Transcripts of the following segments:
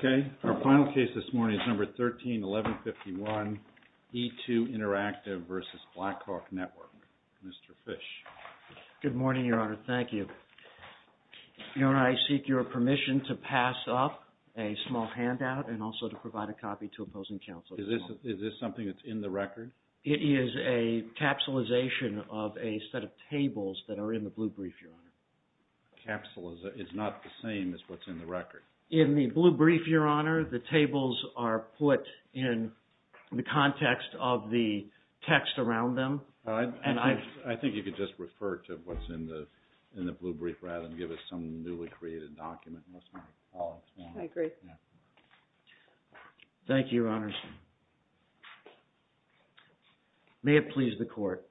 Okay, our final case this morning is number 13-1151, E2 Interactive versus Blackhawk Network. Mr. Fish. Good morning, Your Honor. Thank you. Your Honor, I seek your permission to pass up a small handout and also to provide a copy to opposing counsel. Is this something that's in the record? It is a capsulization of a set of tables that are in the blue brief, Your Honor. Capsulization? It's not the same as what's in the record? In the blue brief, Your Honor, the tables are put in the context of the text around them. I think you could just refer to what's in the blue brief rather than give us some newly created document. I agree. Thank you, Your Honor. May it please the Court.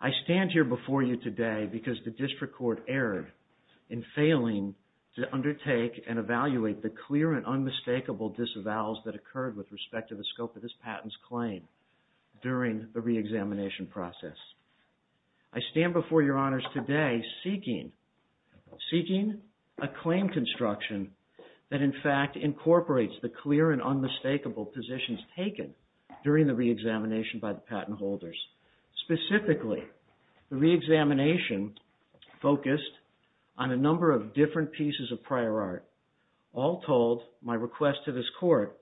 I stand here before you today because the District Court erred in failing to undertake and evaluate the clear and unmistakable disavowals that occurred with respect to the scope of the re-examination process. I stand before Your Honors today seeking a claim construction that, in fact, incorporates the clear and unmistakable positions taken during the re-examination by the patent holders. Specifically, the re-examination focused on a number of different pieces of prior art. All told, my request to this Court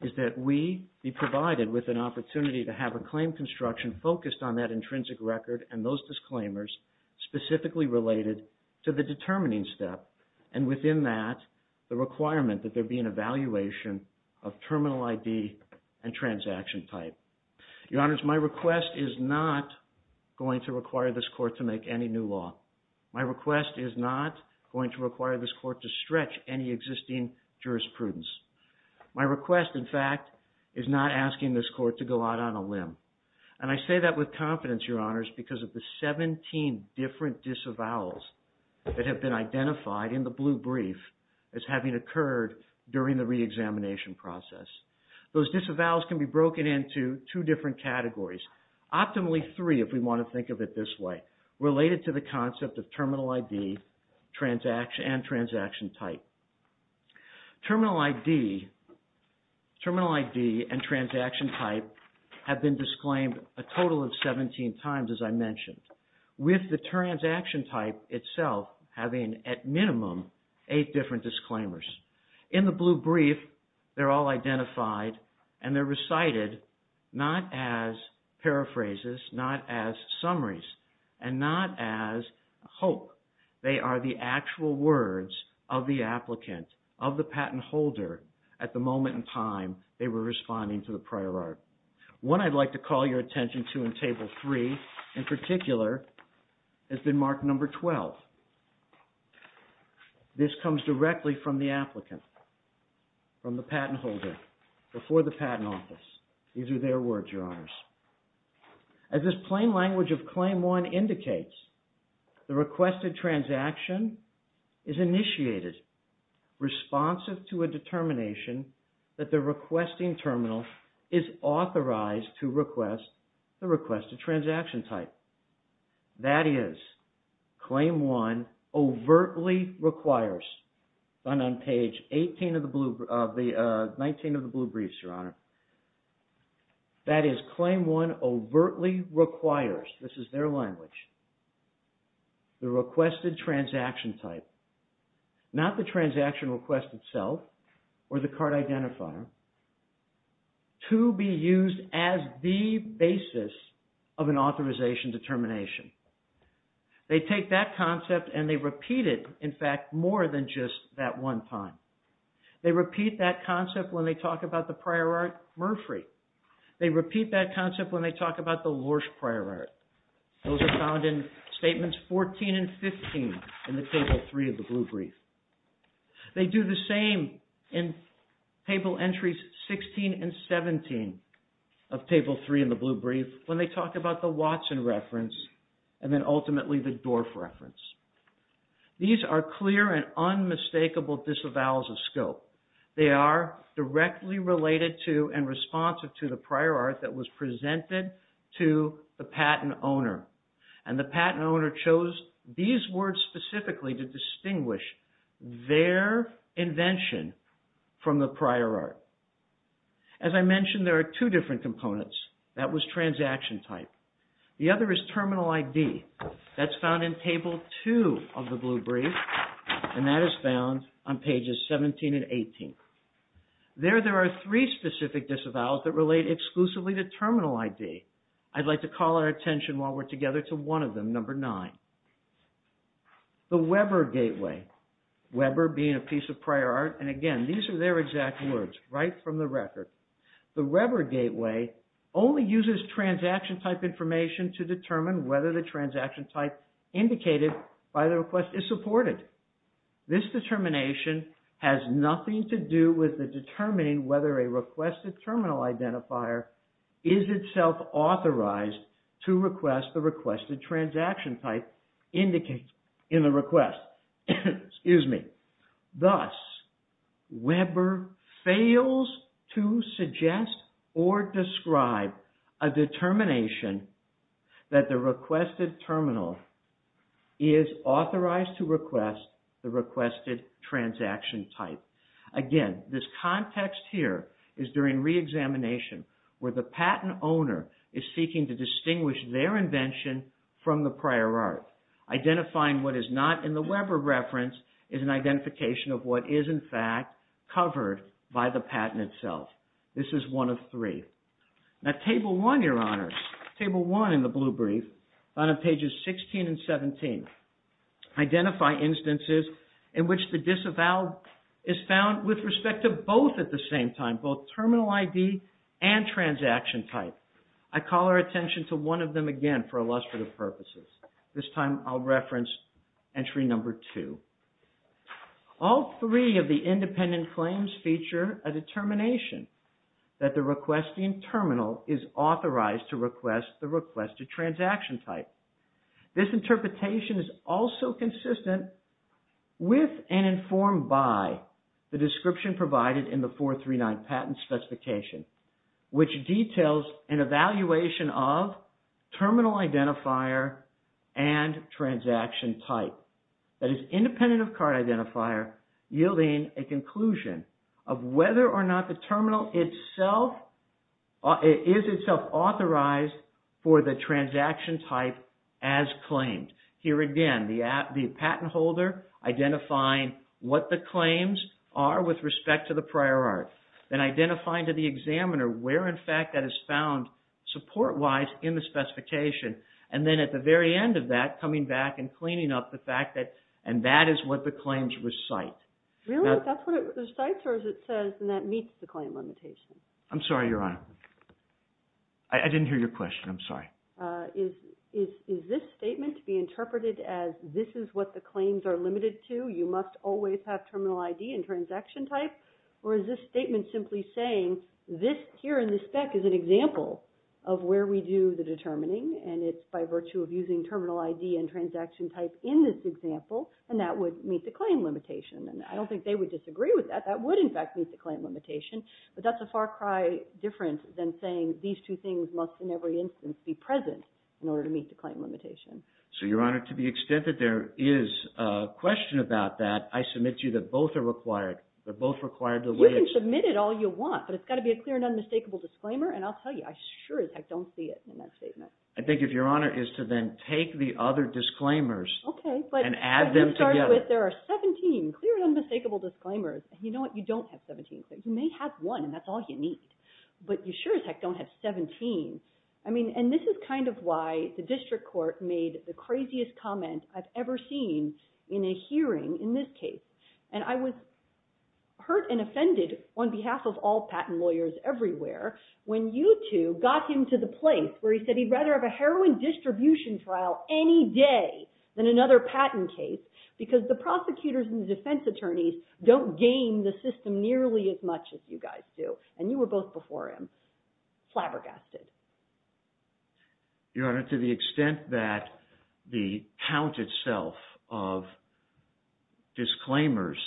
is that we be provided with an opportunity to have a claim construction focused on that intrinsic record and those disclaimers specifically related to the determining step, and within that, the requirement that there be an evaluation of terminal ID and transaction type. Your Honors, my request is not going to require this Court to make any new law. My request is not going to require this Court to stretch any existing jurisprudence. My request, in fact, is not asking this Court to go out on a limb, and I say that with confidence, Your Honors, because of the 17 different disavowals that have been identified in the blue brief as having occurred during the re-examination process. Those disavowals can be broken into two different categories, optimally three if we want to think of it this way, related to the concept of terminal ID and transaction type. Terminal ID and transaction type have been disclaimed a total of 17 times, as I mentioned, with the transaction type itself having, at minimum, eight different disclaimers. In the blue brief, they're all identified and they're recited not as paraphrases, not as summaries, and not as hope. They are the actual words of the applicant, of the patent holder, at the moment in time they were responding to the prior art. What I'd like to call your attention to in Table 3, in particular, has been Mark Number 12. This comes directly from the applicant, from the patent holder, before the Patent Office. These are their words, Your Honors. As this plain language of Claim 1 indicates, the requested transaction is initiated responsive to a determination that the requesting terminal is authorized to request the requested transaction type. That is, Claim 1 overtly requires, on page 19 of the blue briefs, Your Honor, that is Claim 1 overtly requires, this is their language, the requested transaction type, not the transaction request itself or the card identifier, to be used as the basis of an authorization determination. They take that concept and they repeat it, in fact, more than just that one time. They repeat that concept when they talk about the prior art Murphree. They repeat that concept when they talk about the Lorsch prior art. Those are found in Statements 14 and 15 in the Table 3 of the blue brief. They do the same in Table Entries 16 and 17 of Table 3 in the blue brief when they talk about the Watson reference and then ultimately the Dorff reference. These are clear and unmistakable disavowals of scope. They are directly related to and responsive to the prior art that was presented to the patent owner and the patent owner chose these words specifically to distinguish their invention from the prior art. As I mentioned, there are two different components. That was transaction type. The other is Terminal ID. That's found in Table 2 of the blue brief and that is found on pages 17 and 18. There there are three specific disavowals that relate exclusively to Terminal ID. I'd like to call our attention while we're together to one of them, number 9. The Weber gateway, Weber being a piece of prior art and again, these are their exact words right from the record. The Weber gateway only uses transaction type information to determine whether the transaction type indicated by the request is supported. This determination has nothing to do with determining whether a requested Terminal Identifier is itself authorized to request the requested transaction type indicated in the request. Thus, Weber fails to suggest or describe a determination that the requested terminal is authorized to request the requested transaction type. Again, this context here is during re-examination where the patent owner is seeking to distinguish their invention from the prior art. Identifying what is not in the Weber reference is an identification of what is in fact covered by the patent itself. This is one of three. Now, Table 1, Your Honor, Table 1 in the blue brief on pages 16 and 17. Identify instances in which the disavowal is found with respect to both at the same time, both Terminal ID and transaction type. I call our attention to one of them again for illustrative purposes. This time I'll reference entry number two. All three of the independent claims feature a determination that the requesting terminal is authorized to request the requested transaction type. This interpretation is also consistent with and informed by the description provided in the 439 patent specification, which details an evaluation of Terminal ID and transaction type. That is independent of card identifier yielding a conclusion of whether or not the terminal itself is itself authorized for the transaction type as claimed. Here again, the patent holder identifying what the claims are with respect to the prior art, then identifying to the examiner where in fact that is found support-wise in the specification, and then at the very end of that coming back and cleaning up the fact that and that is what the claims recite. Really? That's what it recites or as it says and that meets the claim limitation? I'm sorry, Your Honor. I didn't hear your question, I'm sorry. Is this statement to be interpreted as this is what the claims are limited to, you must always have Terminal ID and transaction type? Or is this statement simply saying this here in the spec is an example of where we do the determining and it's by virtue of using Terminal ID and transaction type in this example and that would meet the claim limitation? I don't think they would disagree with that. That would in fact meet the claim limitation, but that's a far cry different than saying that these two things must in every instance be present in order to meet the claim limitation. So Your Honor, to the extent that there is a question about that, I submit to you that both are required. They're both required the way it's... You can submit it all you want, but it's got to be a clear and unmistakable disclaimer and I'll tell you, I sure as heck don't see it in that statement. I think if Your Honor is to then take the other disclaimers and add them together... Okay, but you started with there are 17 clear and unmistakable disclaimers and you know what, you don't have 17, you may have one and that's all you need, but you sure as heck don't have 17. I mean, and this is kind of why the district court made the craziest comment I've ever seen in a hearing in this case and I was hurt and offended on behalf of all patent lawyers everywhere when you two got him to the place where he said he'd rather have a heroin distribution trial any day than another patent case because the prosecutors and defense attorneys don't game the system nearly as much as you guys do and you were both before him flabbergasted. Your Honor, to the extent that the count itself of disclaimers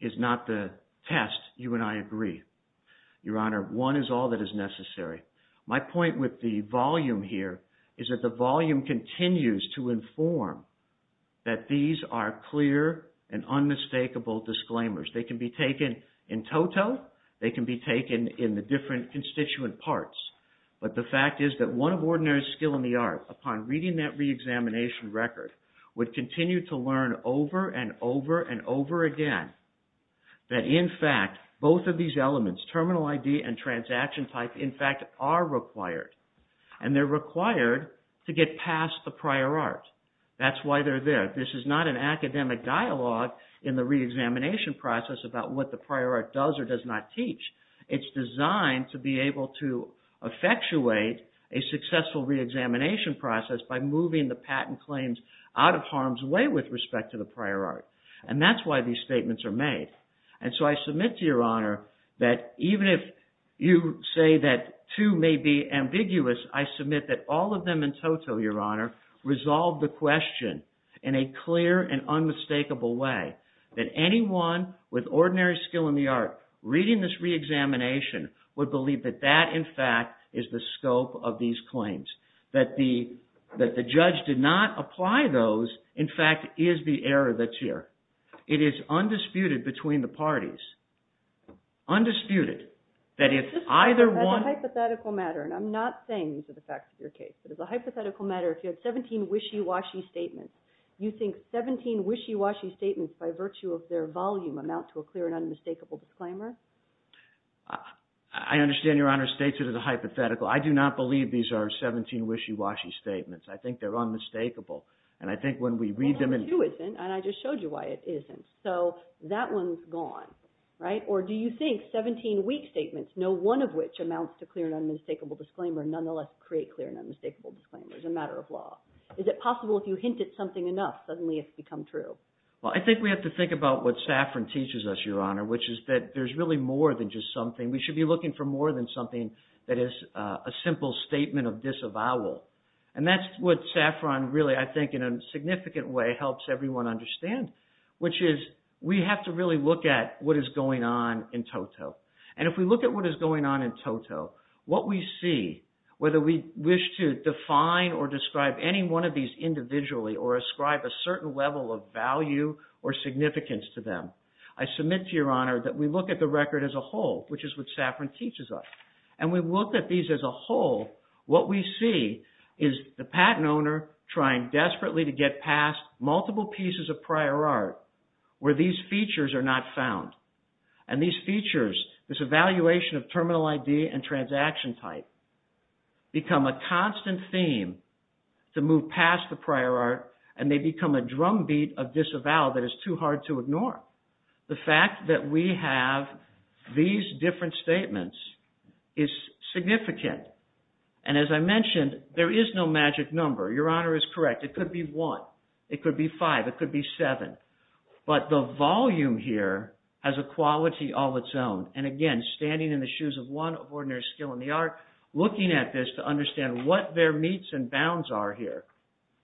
is not the test, you and I agree. Your Honor, one is all that is necessary. My point with the volume here is that the volume continues to inform that these are clear and unmistakable disclaimers. They can be taken in toto, they can be taken in the different constituent parts, but the fact is that one of ordinary skill in the art upon reading that reexamination record would continue to learn over and over and over again that in fact both of these elements, terminal ID and transaction type, in fact are required and they're required to get past the prior art. That's why they're there. This is not an academic dialogue in the reexamination process about what the prior art does or does not teach. It's designed to be able to effectuate a successful reexamination process by moving the patent claims out of harm's way with respect to the prior art. And that's why these statements are made. And so I submit to Your Honor that even if you say that two may be ambiguous, I submit that all of them in toto, Your Honor, resolve the question in a clear and unmistakable way that anyone with ordinary skill in the art reading this reexamination would believe that that in fact is the scope of these claims. That the judge did not apply those in fact is the error that's here. It is undisputed between the parties. Undisputed that if either one- But as a hypothetical matter, if you had 17 wishy-washy statements, you think 17 wishy-washy statements by virtue of their volume amount to a clear and unmistakable disclaimer? I understand Your Honor states it as a hypothetical. I do not believe these are 17 wishy-washy statements. I think they're unmistakable. And I think when we read them in- Well, one or two isn't. And I just showed you why it isn't. So that one's gone, right? Or do you think 17 weak statements, no one of which amounts to clear and unmistakable disclaimer, nonetheless create clear and unmistakable disclaimer as a matter of law? Is it possible if you hint at something enough, suddenly it's become true? Well, I think we have to think about what Saffron teaches us, Your Honor, which is that there's really more than just something. We should be looking for more than something that is a simple statement of disavowal. And that's what Saffron really, I think in a significant way, helps everyone understand, which is we have to really look at what is going on in toto. And if we look at what is going on in toto, what we see, whether we wish to define or describe any one of these individually or ascribe a certain level of value or significance to them, I submit to Your Honor that we look at the record as a whole, which is what Saffron teaches us. And we look at these as a whole, what we see is the patent owner trying desperately to get past multiple pieces of prior art where these features are not found. And these features, this evaluation of terminal ID and transaction type, become a constant theme to move past the prior art and they become a drumbeat of disavowal that is too hard to ignore. The fact that we have these different statements is significant. And as I mentioned, there is no magic number. Your Honor is correct. It could be one. It could be five. It could be seven. But the volume here has a quality all its own. And again, standing in the shoes of one of ordinary skill in the art, looking at this to understand what their meets and bounds are here.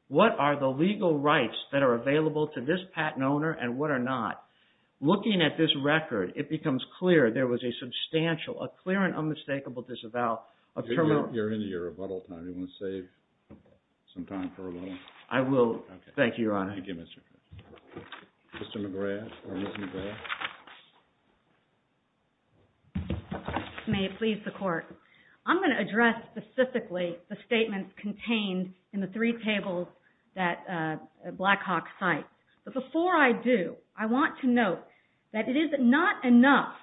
What are the legal rights that are available to this patent owner and what are not? Looking at this record, it becomes clear there was a substantial, a clear and unmistakable disavowal. You're into your rebuttal time. Do you want to save some time for rebuttal? I will. Thank you, Your Honor. Thank you, Mr. McGrath. Mr. McGrath or Ms. McGrath. May it please the Court. I'm going to address specifically the statements contained in the three tables that Blackhawk cites. But before I do, I want to note that it is not enough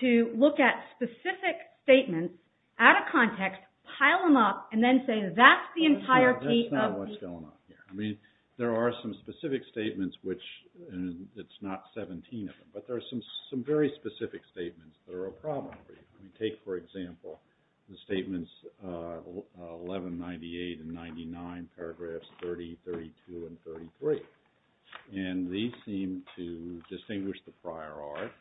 to look at specific statements out of context, pile them up, and then say that's the entirety of the… That's not what's going on here. I mean, there are some specific statements which, and it's not 17 of them, but there are some very specific statements that are a problem for you. Take, for example, the statements 1198 and 99, paragraphs 30, 32, and 33. And these seem to distinguish the prior art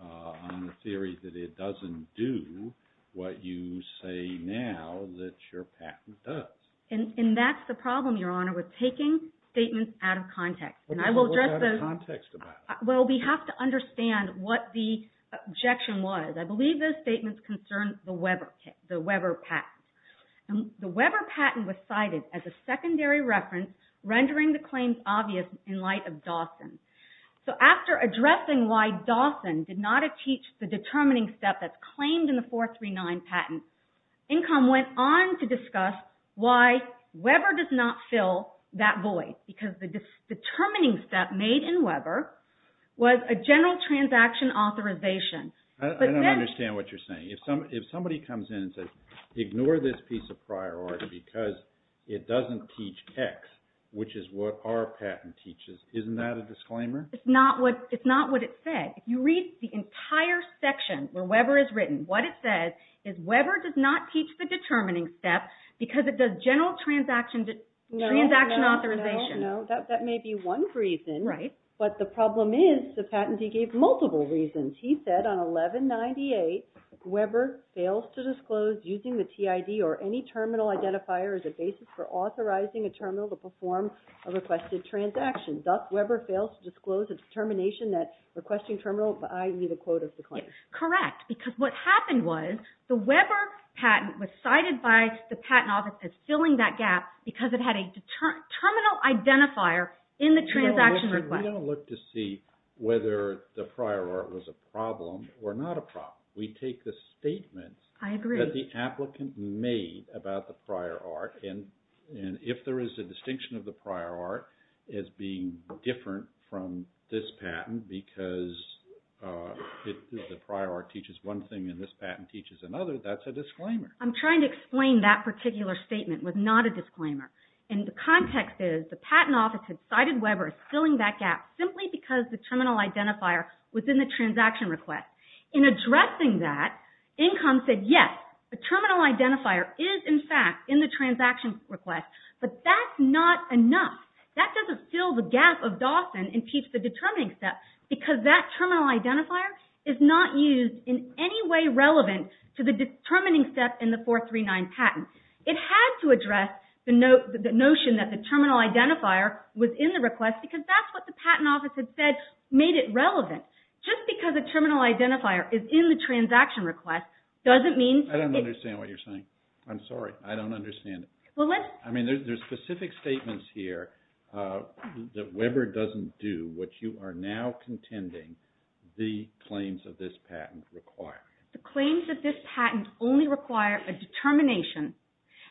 on the theory that it doesn't do what you say now that your patent does. And that's the problem, Your Honor, with taking statements out of context. And I will address those… What's out of context about it? Well, we have to understand what the objection was. I believe those statements concern the Weber patent. The Weber patent was cited as a secondary reference rendering the claims obvious in light of Dawson. So, after addressing why Dawson did not achieve the determining step that's claimed in the Weber patent, and why Weber does not fill that void, because the determining step made in Weber was a general transaction authorization. I don't understand what you're saying. If somebody comes in and says, ignore this piece of prior art because it doesn't teach X, which is what our patent teaches, isn't that a disclaimer? It's not what it said. If you read the entire section where Weber is written, what it says is Weber does not have a general transaction authorization. No, that may be one reason, but the problem is the patentee gave multiple reasons. He said on 1198, Weber fails to disclose using the TID or any terminal identifier as a basis for authorizing a terminal to perform a requested transaction. Thus, Weber fails to disclose a determination that requesting terminal, but I need a quote of the claim. Correct. We don't look to see whether the prior art was a problem or not a problem. We take the statements that the applicant made about the prior art and if there is a distinction of the prior art as being different from this patent because the prior art teaches one thing and this patent teaches another, that's a disclaimer. I'm trying to explain that particular statement was not a disclaimer. The context is the patent office had cited Weber as filling that gap simply because the terminal identifier was in the transaction request. In addressing that, Incom said, yes, the terminal identifier is in fact in the transaction request, but that's not enough. That doesn't fill the gap of Dawson and teach the determining step because that terminal identifier is in any way relevant to the determining step in the 439 patent. It had to address the notion that the terminal identifier was in the request because that's what the patent office had said made it relevant. Just because a terminal identifier is in the transaction request doesn't mean... I don't understand what you're saying. I'm sorry. I don't understand it. Well, let's... I mean, there's specific statements here that Weber doesn't do what you are now contending the claims of this patent require. The claims of this patent only require a determination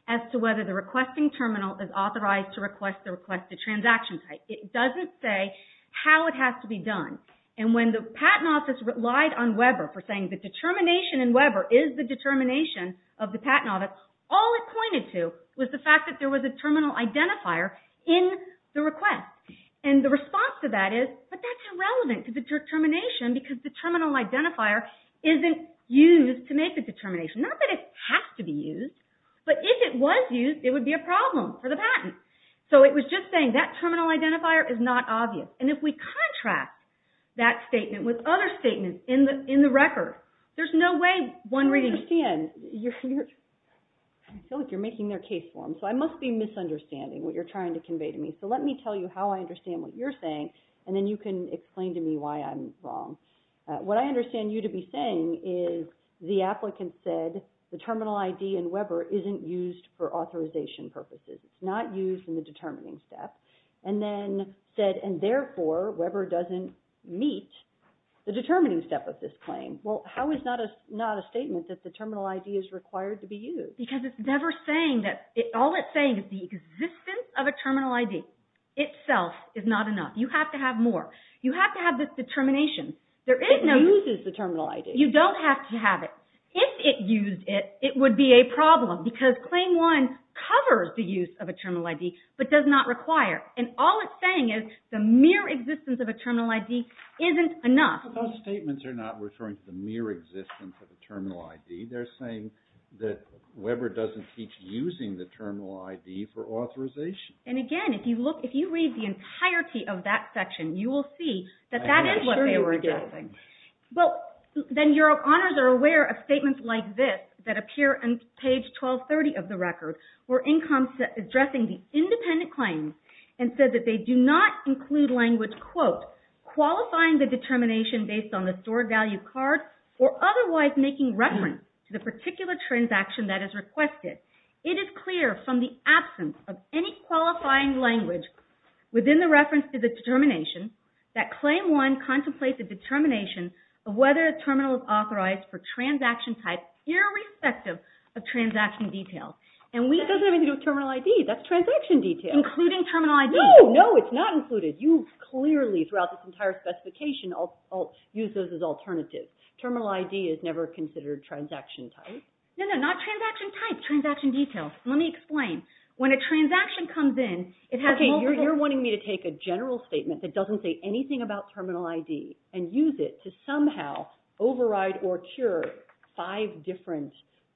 as to whether the requesting terminal is authorized to request the requested transaction type. It doesn't say how it has to be done. And when the patent office relied on Weber for saying the determination in Weber is the determination of the patent office, all it pointed to was the fact that there was a terminal identifier in the request. And the response to that is, but that's irrelevant to the determination because the terminal identifier isn't used to make the determination. Not that it has to be used, but if it was used, it would be a problem for the patent. So it was just saying that terminal identifier is not obvious. And if we contrast that statement with other statements in the record, there's no way one reading... I don't understand. I feel like you're making their case for them. So I must be misunderstanding what you're trying to convey to me. So let me tell you how I understand what you're saying, and then you can explain to me why I'm wrong. What I understand you to be saying is the applicant said the terminal ID in Weber isn't used for authorization purposes. It's not used in the determining step. And then said, and therefore Weber doesn't meet the determining step of this claim. Well, how is not a statement that the terminal ID is required to be used? Because it's never saying that... All it's saying is the existence of a terminal ID itself is not enough. You have to have more. You have to have this determination. It uses the terminal ID. You don't have to have it. If it used it, it would be a problem because claim one covers the use of a terminal ID but does not require. And all it's saying is the mere existence of a terminal ID isn't enough. Those statements are not referring to the mere existence of a terminal ID. They're saying that Weber doesn't teach using the terminal ID for authorization. And again, if you look, if you read the entirety of that section, you will see that that is what they were addressing. Well, then your honors are aware of statements like this that appear on page 1230 of the record, where incomes addressing the independent claims and said that they do not include language quote, qualifying the determination based on the stored value card or otherwise making reference to the particular transaction that is requested. It is clear from the absence of any qualifying language within the reference to the determination that claim one contemplates a determination of whether a terminal is authorized for transaction type irrespective of transaction detail. And we... That doesn't have anything to do with terminal ID. That's transaction detail. Including terminal ID. No, no. It's not included. You clearly throughout this entire specification use those as alternatives. Terminal ID is never considered transaction type. No, no. Not transaction type. Transaction detail. Let me explain. When a transaction comes in, it has multiple... Okay. You're wanting me to take a general statement that doesn't say anything about terminal ID and use it to somehow override or cure five different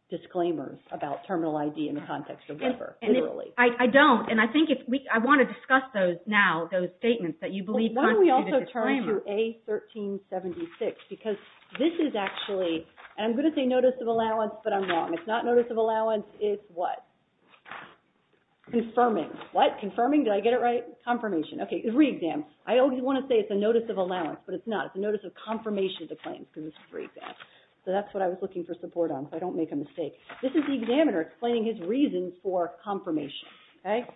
disclaimers about terminal ID in the context of Weber. Literally. I don't. And I think it's... I want to discuss those now, those statements that you believe constitute a disclaimer. I'm going to turn to A1376 because this is actually... And I'm going to say notice of allowance, but I'm wrong. It's not notice of allowance. It's what? Confirming. What? Confirming? Did I get it right? Confirmation. Okay. Re-exam. I always want to say it's a notice of allowance, but it's not. It's a notice of confirmation of the claim. Because it's a re-exam. So that's what I was looking for support on. So I don't make a mistake. This is the examiner explaining his reasons for confirmation. Okay?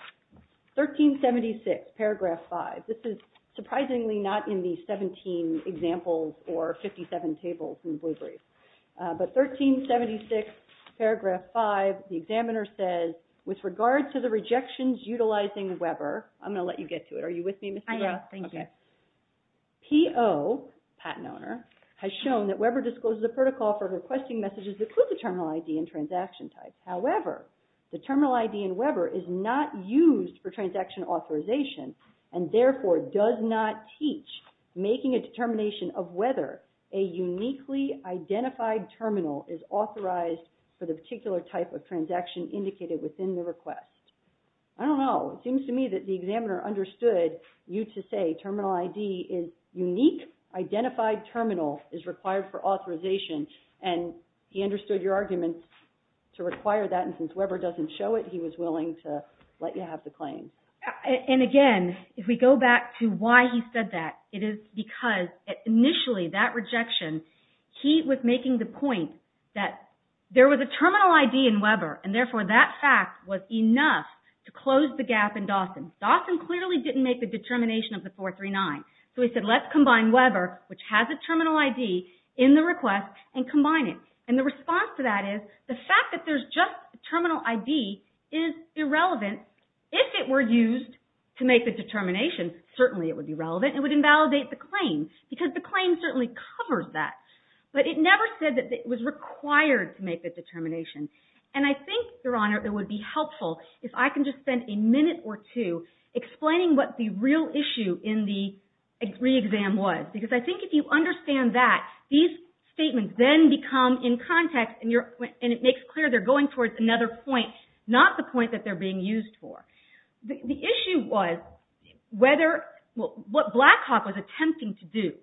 1376, paragraph five. This is surprisingly not in the 17 examples or 57 tables in the Blue Brief. But 1376, paragraph five, the examiner says, with regard to the rejections utilizing Weber... I'm going to let you get to it. Are you with me, Ms. Debra? I am. Thank you. Okay. PO, patent owner, has shown that Weber discloses a protocol for requesting messages that include the terminal ID and transaction type. However, the terminal ID in Weber is not used for transaction authorization and therefore does not teach making a determination of whether a uniquely identified terminal is authorized for the particular type of transaction indicated within the request. I don't know. It seems to me that the examiner understood you to say terminal ID is unique, identified terminal is required for authorization and he understood your argument to require that and since Weber doesn't show it, he was willing to let you have the claim. And again, if we go back to why he said that, it is because initially that rejection, he was making the point that there was a terminal ID in Weber and therefore that fact was enough to close the gap in Dawson. Dawson clearly didn't make the determination of the 439. So he said let's combine Weber, which has a terminal ID, in the request and combine it. And the response to that is the fact that there's just a terminal ID is irrelevant. If it were used to make the determination, certainly it would be relevant. It would invalidate the claim because the claim certainly covers that. But it never said that it was required to make the determination. And I think, Your Honor, it would be helpful if I can just spend a minute or two explaining what the real issue in the re-exam was. Because I think if you understand that, these statements then become in context and it makes clear they're going towards another point, not the point that they're being used for. The issue was what Blackhawk was attempting to do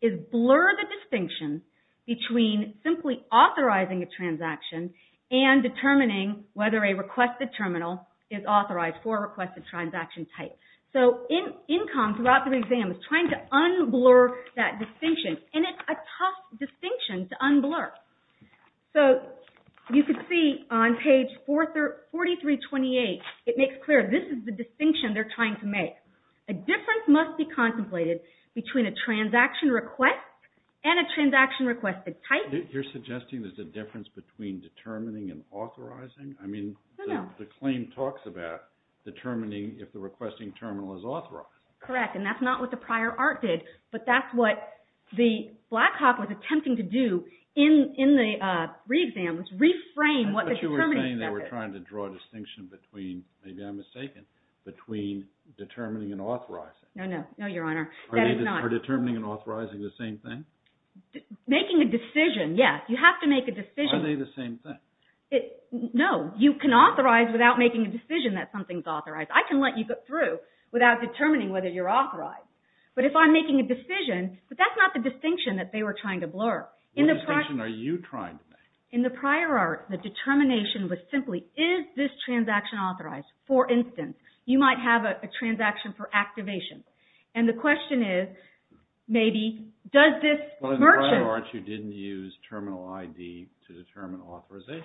is blur the distinction between simply authorizing a transaction and determining whether a requested terminal is authorized for a requested transaction type. So INCOM throughout the re-exam is trying to unblur that distinction. And it's a tough distinction to unblur. So you can see on page 4328, it makes clear this is the distinction they're trying to make. A difference must be contemplated between a transaction request and a transaction requested type. You're suggesting there's a difference between determining and authorizing? No, no. The claim talks about determining if the requesting terminal is authorized. Correct. And that's not what the prior art did. But that's what the Blackhawk was attempting to do in the re-exam, was reframe what the determining step is. I thought you were saying they were trying to draw a distinction between, maybe I'm mistaken, between determining and authorizing. No, no. No, Your Honor. That is not. Are determining and authorizing the same thing? Making a decision, yes. You have to make a decision. Are they the same thing? No. You can authorize without making a decision that something's authorized. I can let you go through without determining whether you're authorized. But if I'm making a decision, but that's not the distinction that they were trying to blur. What distinction are you trying to make? In the prior art, the determination was simply, is this transaction authorized? For instance, you might have a transaction for activation. And the question is, maybe, does this merchant? Well, in the prior art, you didn't use terminal ID to determine authorization.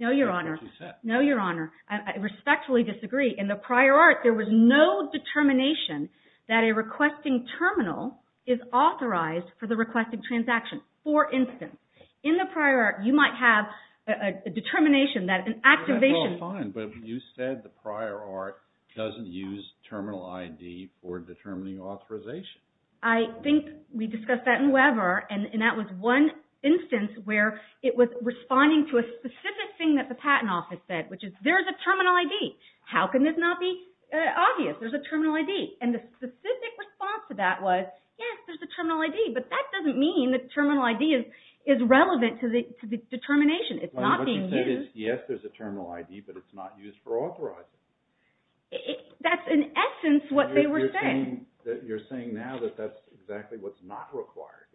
No, Your Honor. That's not what you said. No, Your Honor. I respectfully disagree. In the prior art, there was no determination that a requesting terminal is authorized for the requesting transaction. For instance, in the prior art, you might have a determination that an activation. Well, fine. But you said the prior art doesn't use terminal ID for determining authorization. I think we discussed that in Weber, and that was one instance where it was responding to the specific thing that the patent office said, which is, there's a terminal ID. How can this not be obvious? There's a terminal ID. And the specific response to that was, yes, there's a terminal ID. But that doesn't mean the terminal ID is relevant to the determination. It's not being used. What you said is, yes, there's a terminal ID, but it's not used for authorization. That's, in essence, what they were saying. You're saying now that that's exactly what's not required.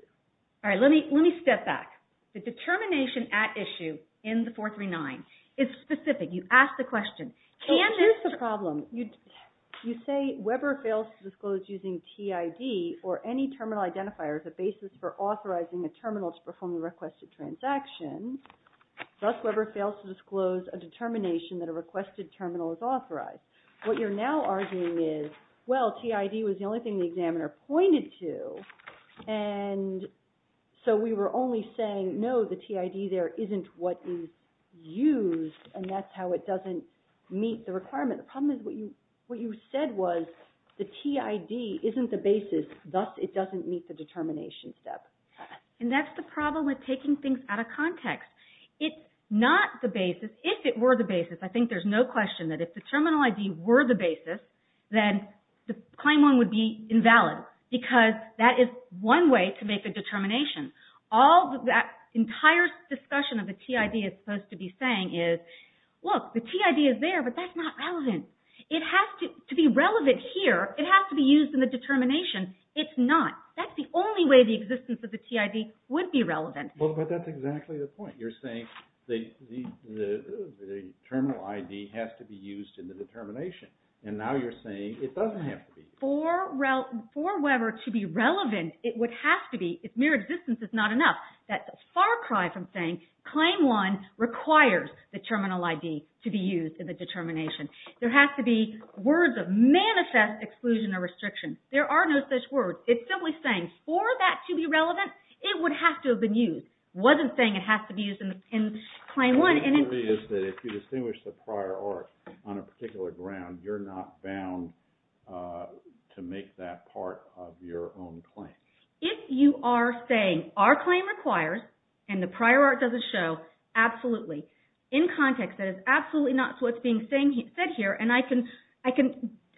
All right. Let me step back. The determination at issue in the 439 is specific. You asked the question. Here's the problem. You say Weber fails to disclose using TID or any terminal identifier as a basis for authorizing a terminal to perform the requested transaction. Thus, Weber fails to disclose a determination that a requested terminal is authorized. What you're now arguing is, well, TID was the only thing the examiner pointed to, and so we were only saying, no, the TID there isn't what is used, and that's how it doesn't meet the requirement. The problem is what you said was the TID isn't the basis. Thus, it doesn't meet the determination step. And that's the problem with taking things out of context. It's not the basis. If it were the basis, I think there's no question that if the terminal ID were the determination, all that entire discussion of the TID is supposed to be saying is, look, the TID is there, but that's not relevant. It has to be relevant here. It has to be used in the determination. It's not. That's the only way the existence of the TID would be relevant. Well, but that's exactly the point. You're saying the terminal ID has to be used in the determination, and now you're saying it doesn't have to be. For Weber to be relevant, it would have to be, if mere existence is not enough, that far cry from saying Claim 1 requires the terminal ID to be used in the determination. There has to be words of manifest exclusion or restriction. There are no such words. It's simply saying for that to be relevant, it would have to have been used. It wasn't saying it has to be used in Claim 1. My theory is that if you distinguish the prior art on a particular ground, you're not bound to make that part of your own claim. If you are saying our claim requires, and the prior art doesn't show, absolutely. In context, that is absolutely not what's being said here, and I can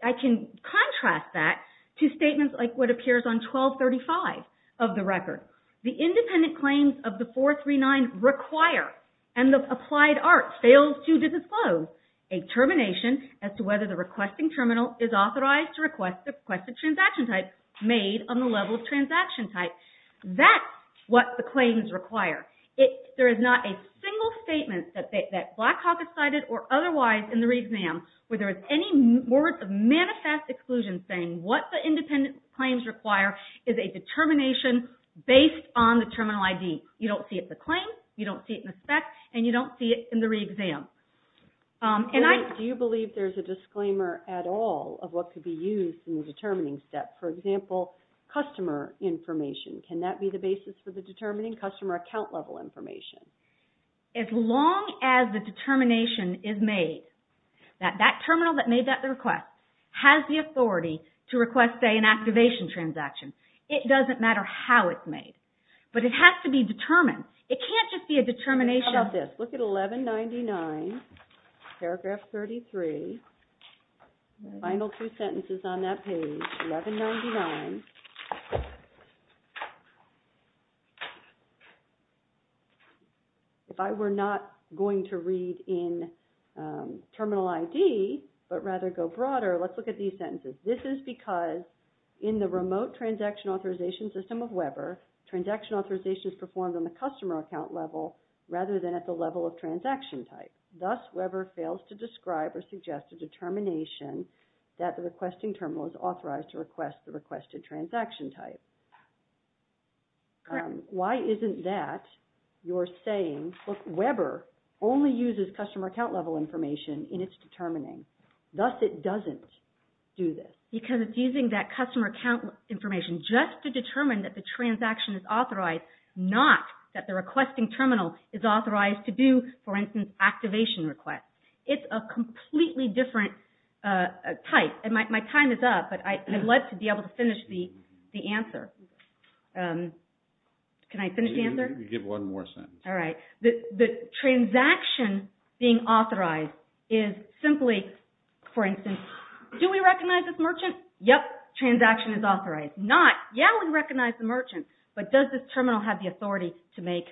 contrast that to statements like what appears on 1235 of the record. The independent claims of the 439 require, and the applied art fails to disclose, a termination as to whether the requesting terminal is authorized to request the requested transaction type made on the level of transaction type. That's what the claims require. There is not a single statement that Blackhawk has cited or otherwise in the re-exam where there is any words of manifest exclusion saying what the independent claims require is a determination based on the terminal ID. You don't see it in the claim, you don't see it in the spec, and you don't see it in the re-exam. Do you believe there's a disclaimer at all of what could be used in the determining step? For example, customer information. Can that be the basis for the determining customer account level information? As long as the determination is made that that terminal that made that request has the authority to request, say, an activation transaction. It doesn't matter how it's made, but it has to be determined. It can't just be a determination of this. Look at 1199, paragraph 33, final two sentences on that page, 1199. If I were not going to read in terminal ID, but rather go broader, let's look at these sentences. This is because in the remote transaction authorization system of Weber, transaction authorization is performed on the customer account level rather than at the level of transaction type. Thus, Weber fails to describe or suggest a determination that the requesting terminal is authorized to request the requested transaction type. Why isn't that? You're saying, look, Weber only uses customer account level information in its determining. Thus, it doesn't do this. Because it's using that customer account information just to determine that the transaction is authorized, not that the requesting terminal is authorized to do, for instance, activation requests. It's a completely different type. My time is up, but I'd love to be able to finish the answer. Can I finish the answer? You can give one more sentence. All right. The transaction being authorized is simply, for instance, do we recognize this merchant? Yep. Transaction is authorized. Not, yeah, we recognize the merchant, but does this terminal have the authority to make,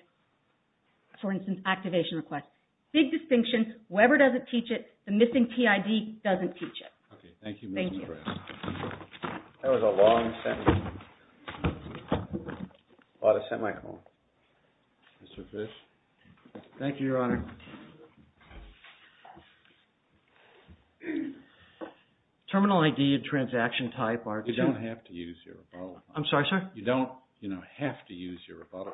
for instance, activation requests? Big distinction. Weber doesn't teach it. The missing PID doesn't teach it. OK. Thank you, Ms. McGrath. Thank you. That was a long sentence. A lot of semicolon. Mr. Fish? Thank you, Your Honor. Terminal ID and transaction type are two... You don't have to use your rebuttal. I'm sorry, sir? You don't have to use your rebuttal.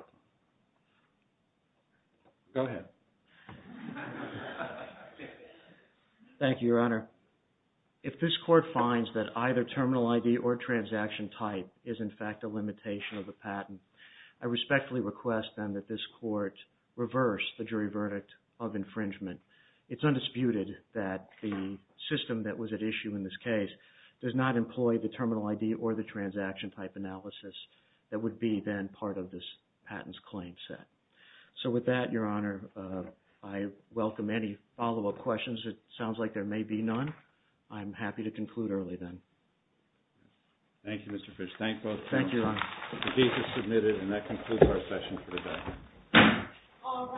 Go ahead. Thank you, Your Honor. If this court finds that either terminal ID or transaction type is, in fact, a limitation of the patent, I respectfully request, then, that this court reverse the jury verdict of infringement. It's undisputed that the system that was at issue in this case does not employ the terminal ID or the transaction type analysis that would be, then, part of this patent's claim set. So with that, Your Honor, I welcome any follow-up questions. It sounds like there may be none. I'm happy to conclude early, then. Thank both of you. Thank you, Your Honor. The case is submitted, and that concludes our session for today. All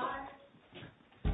rise.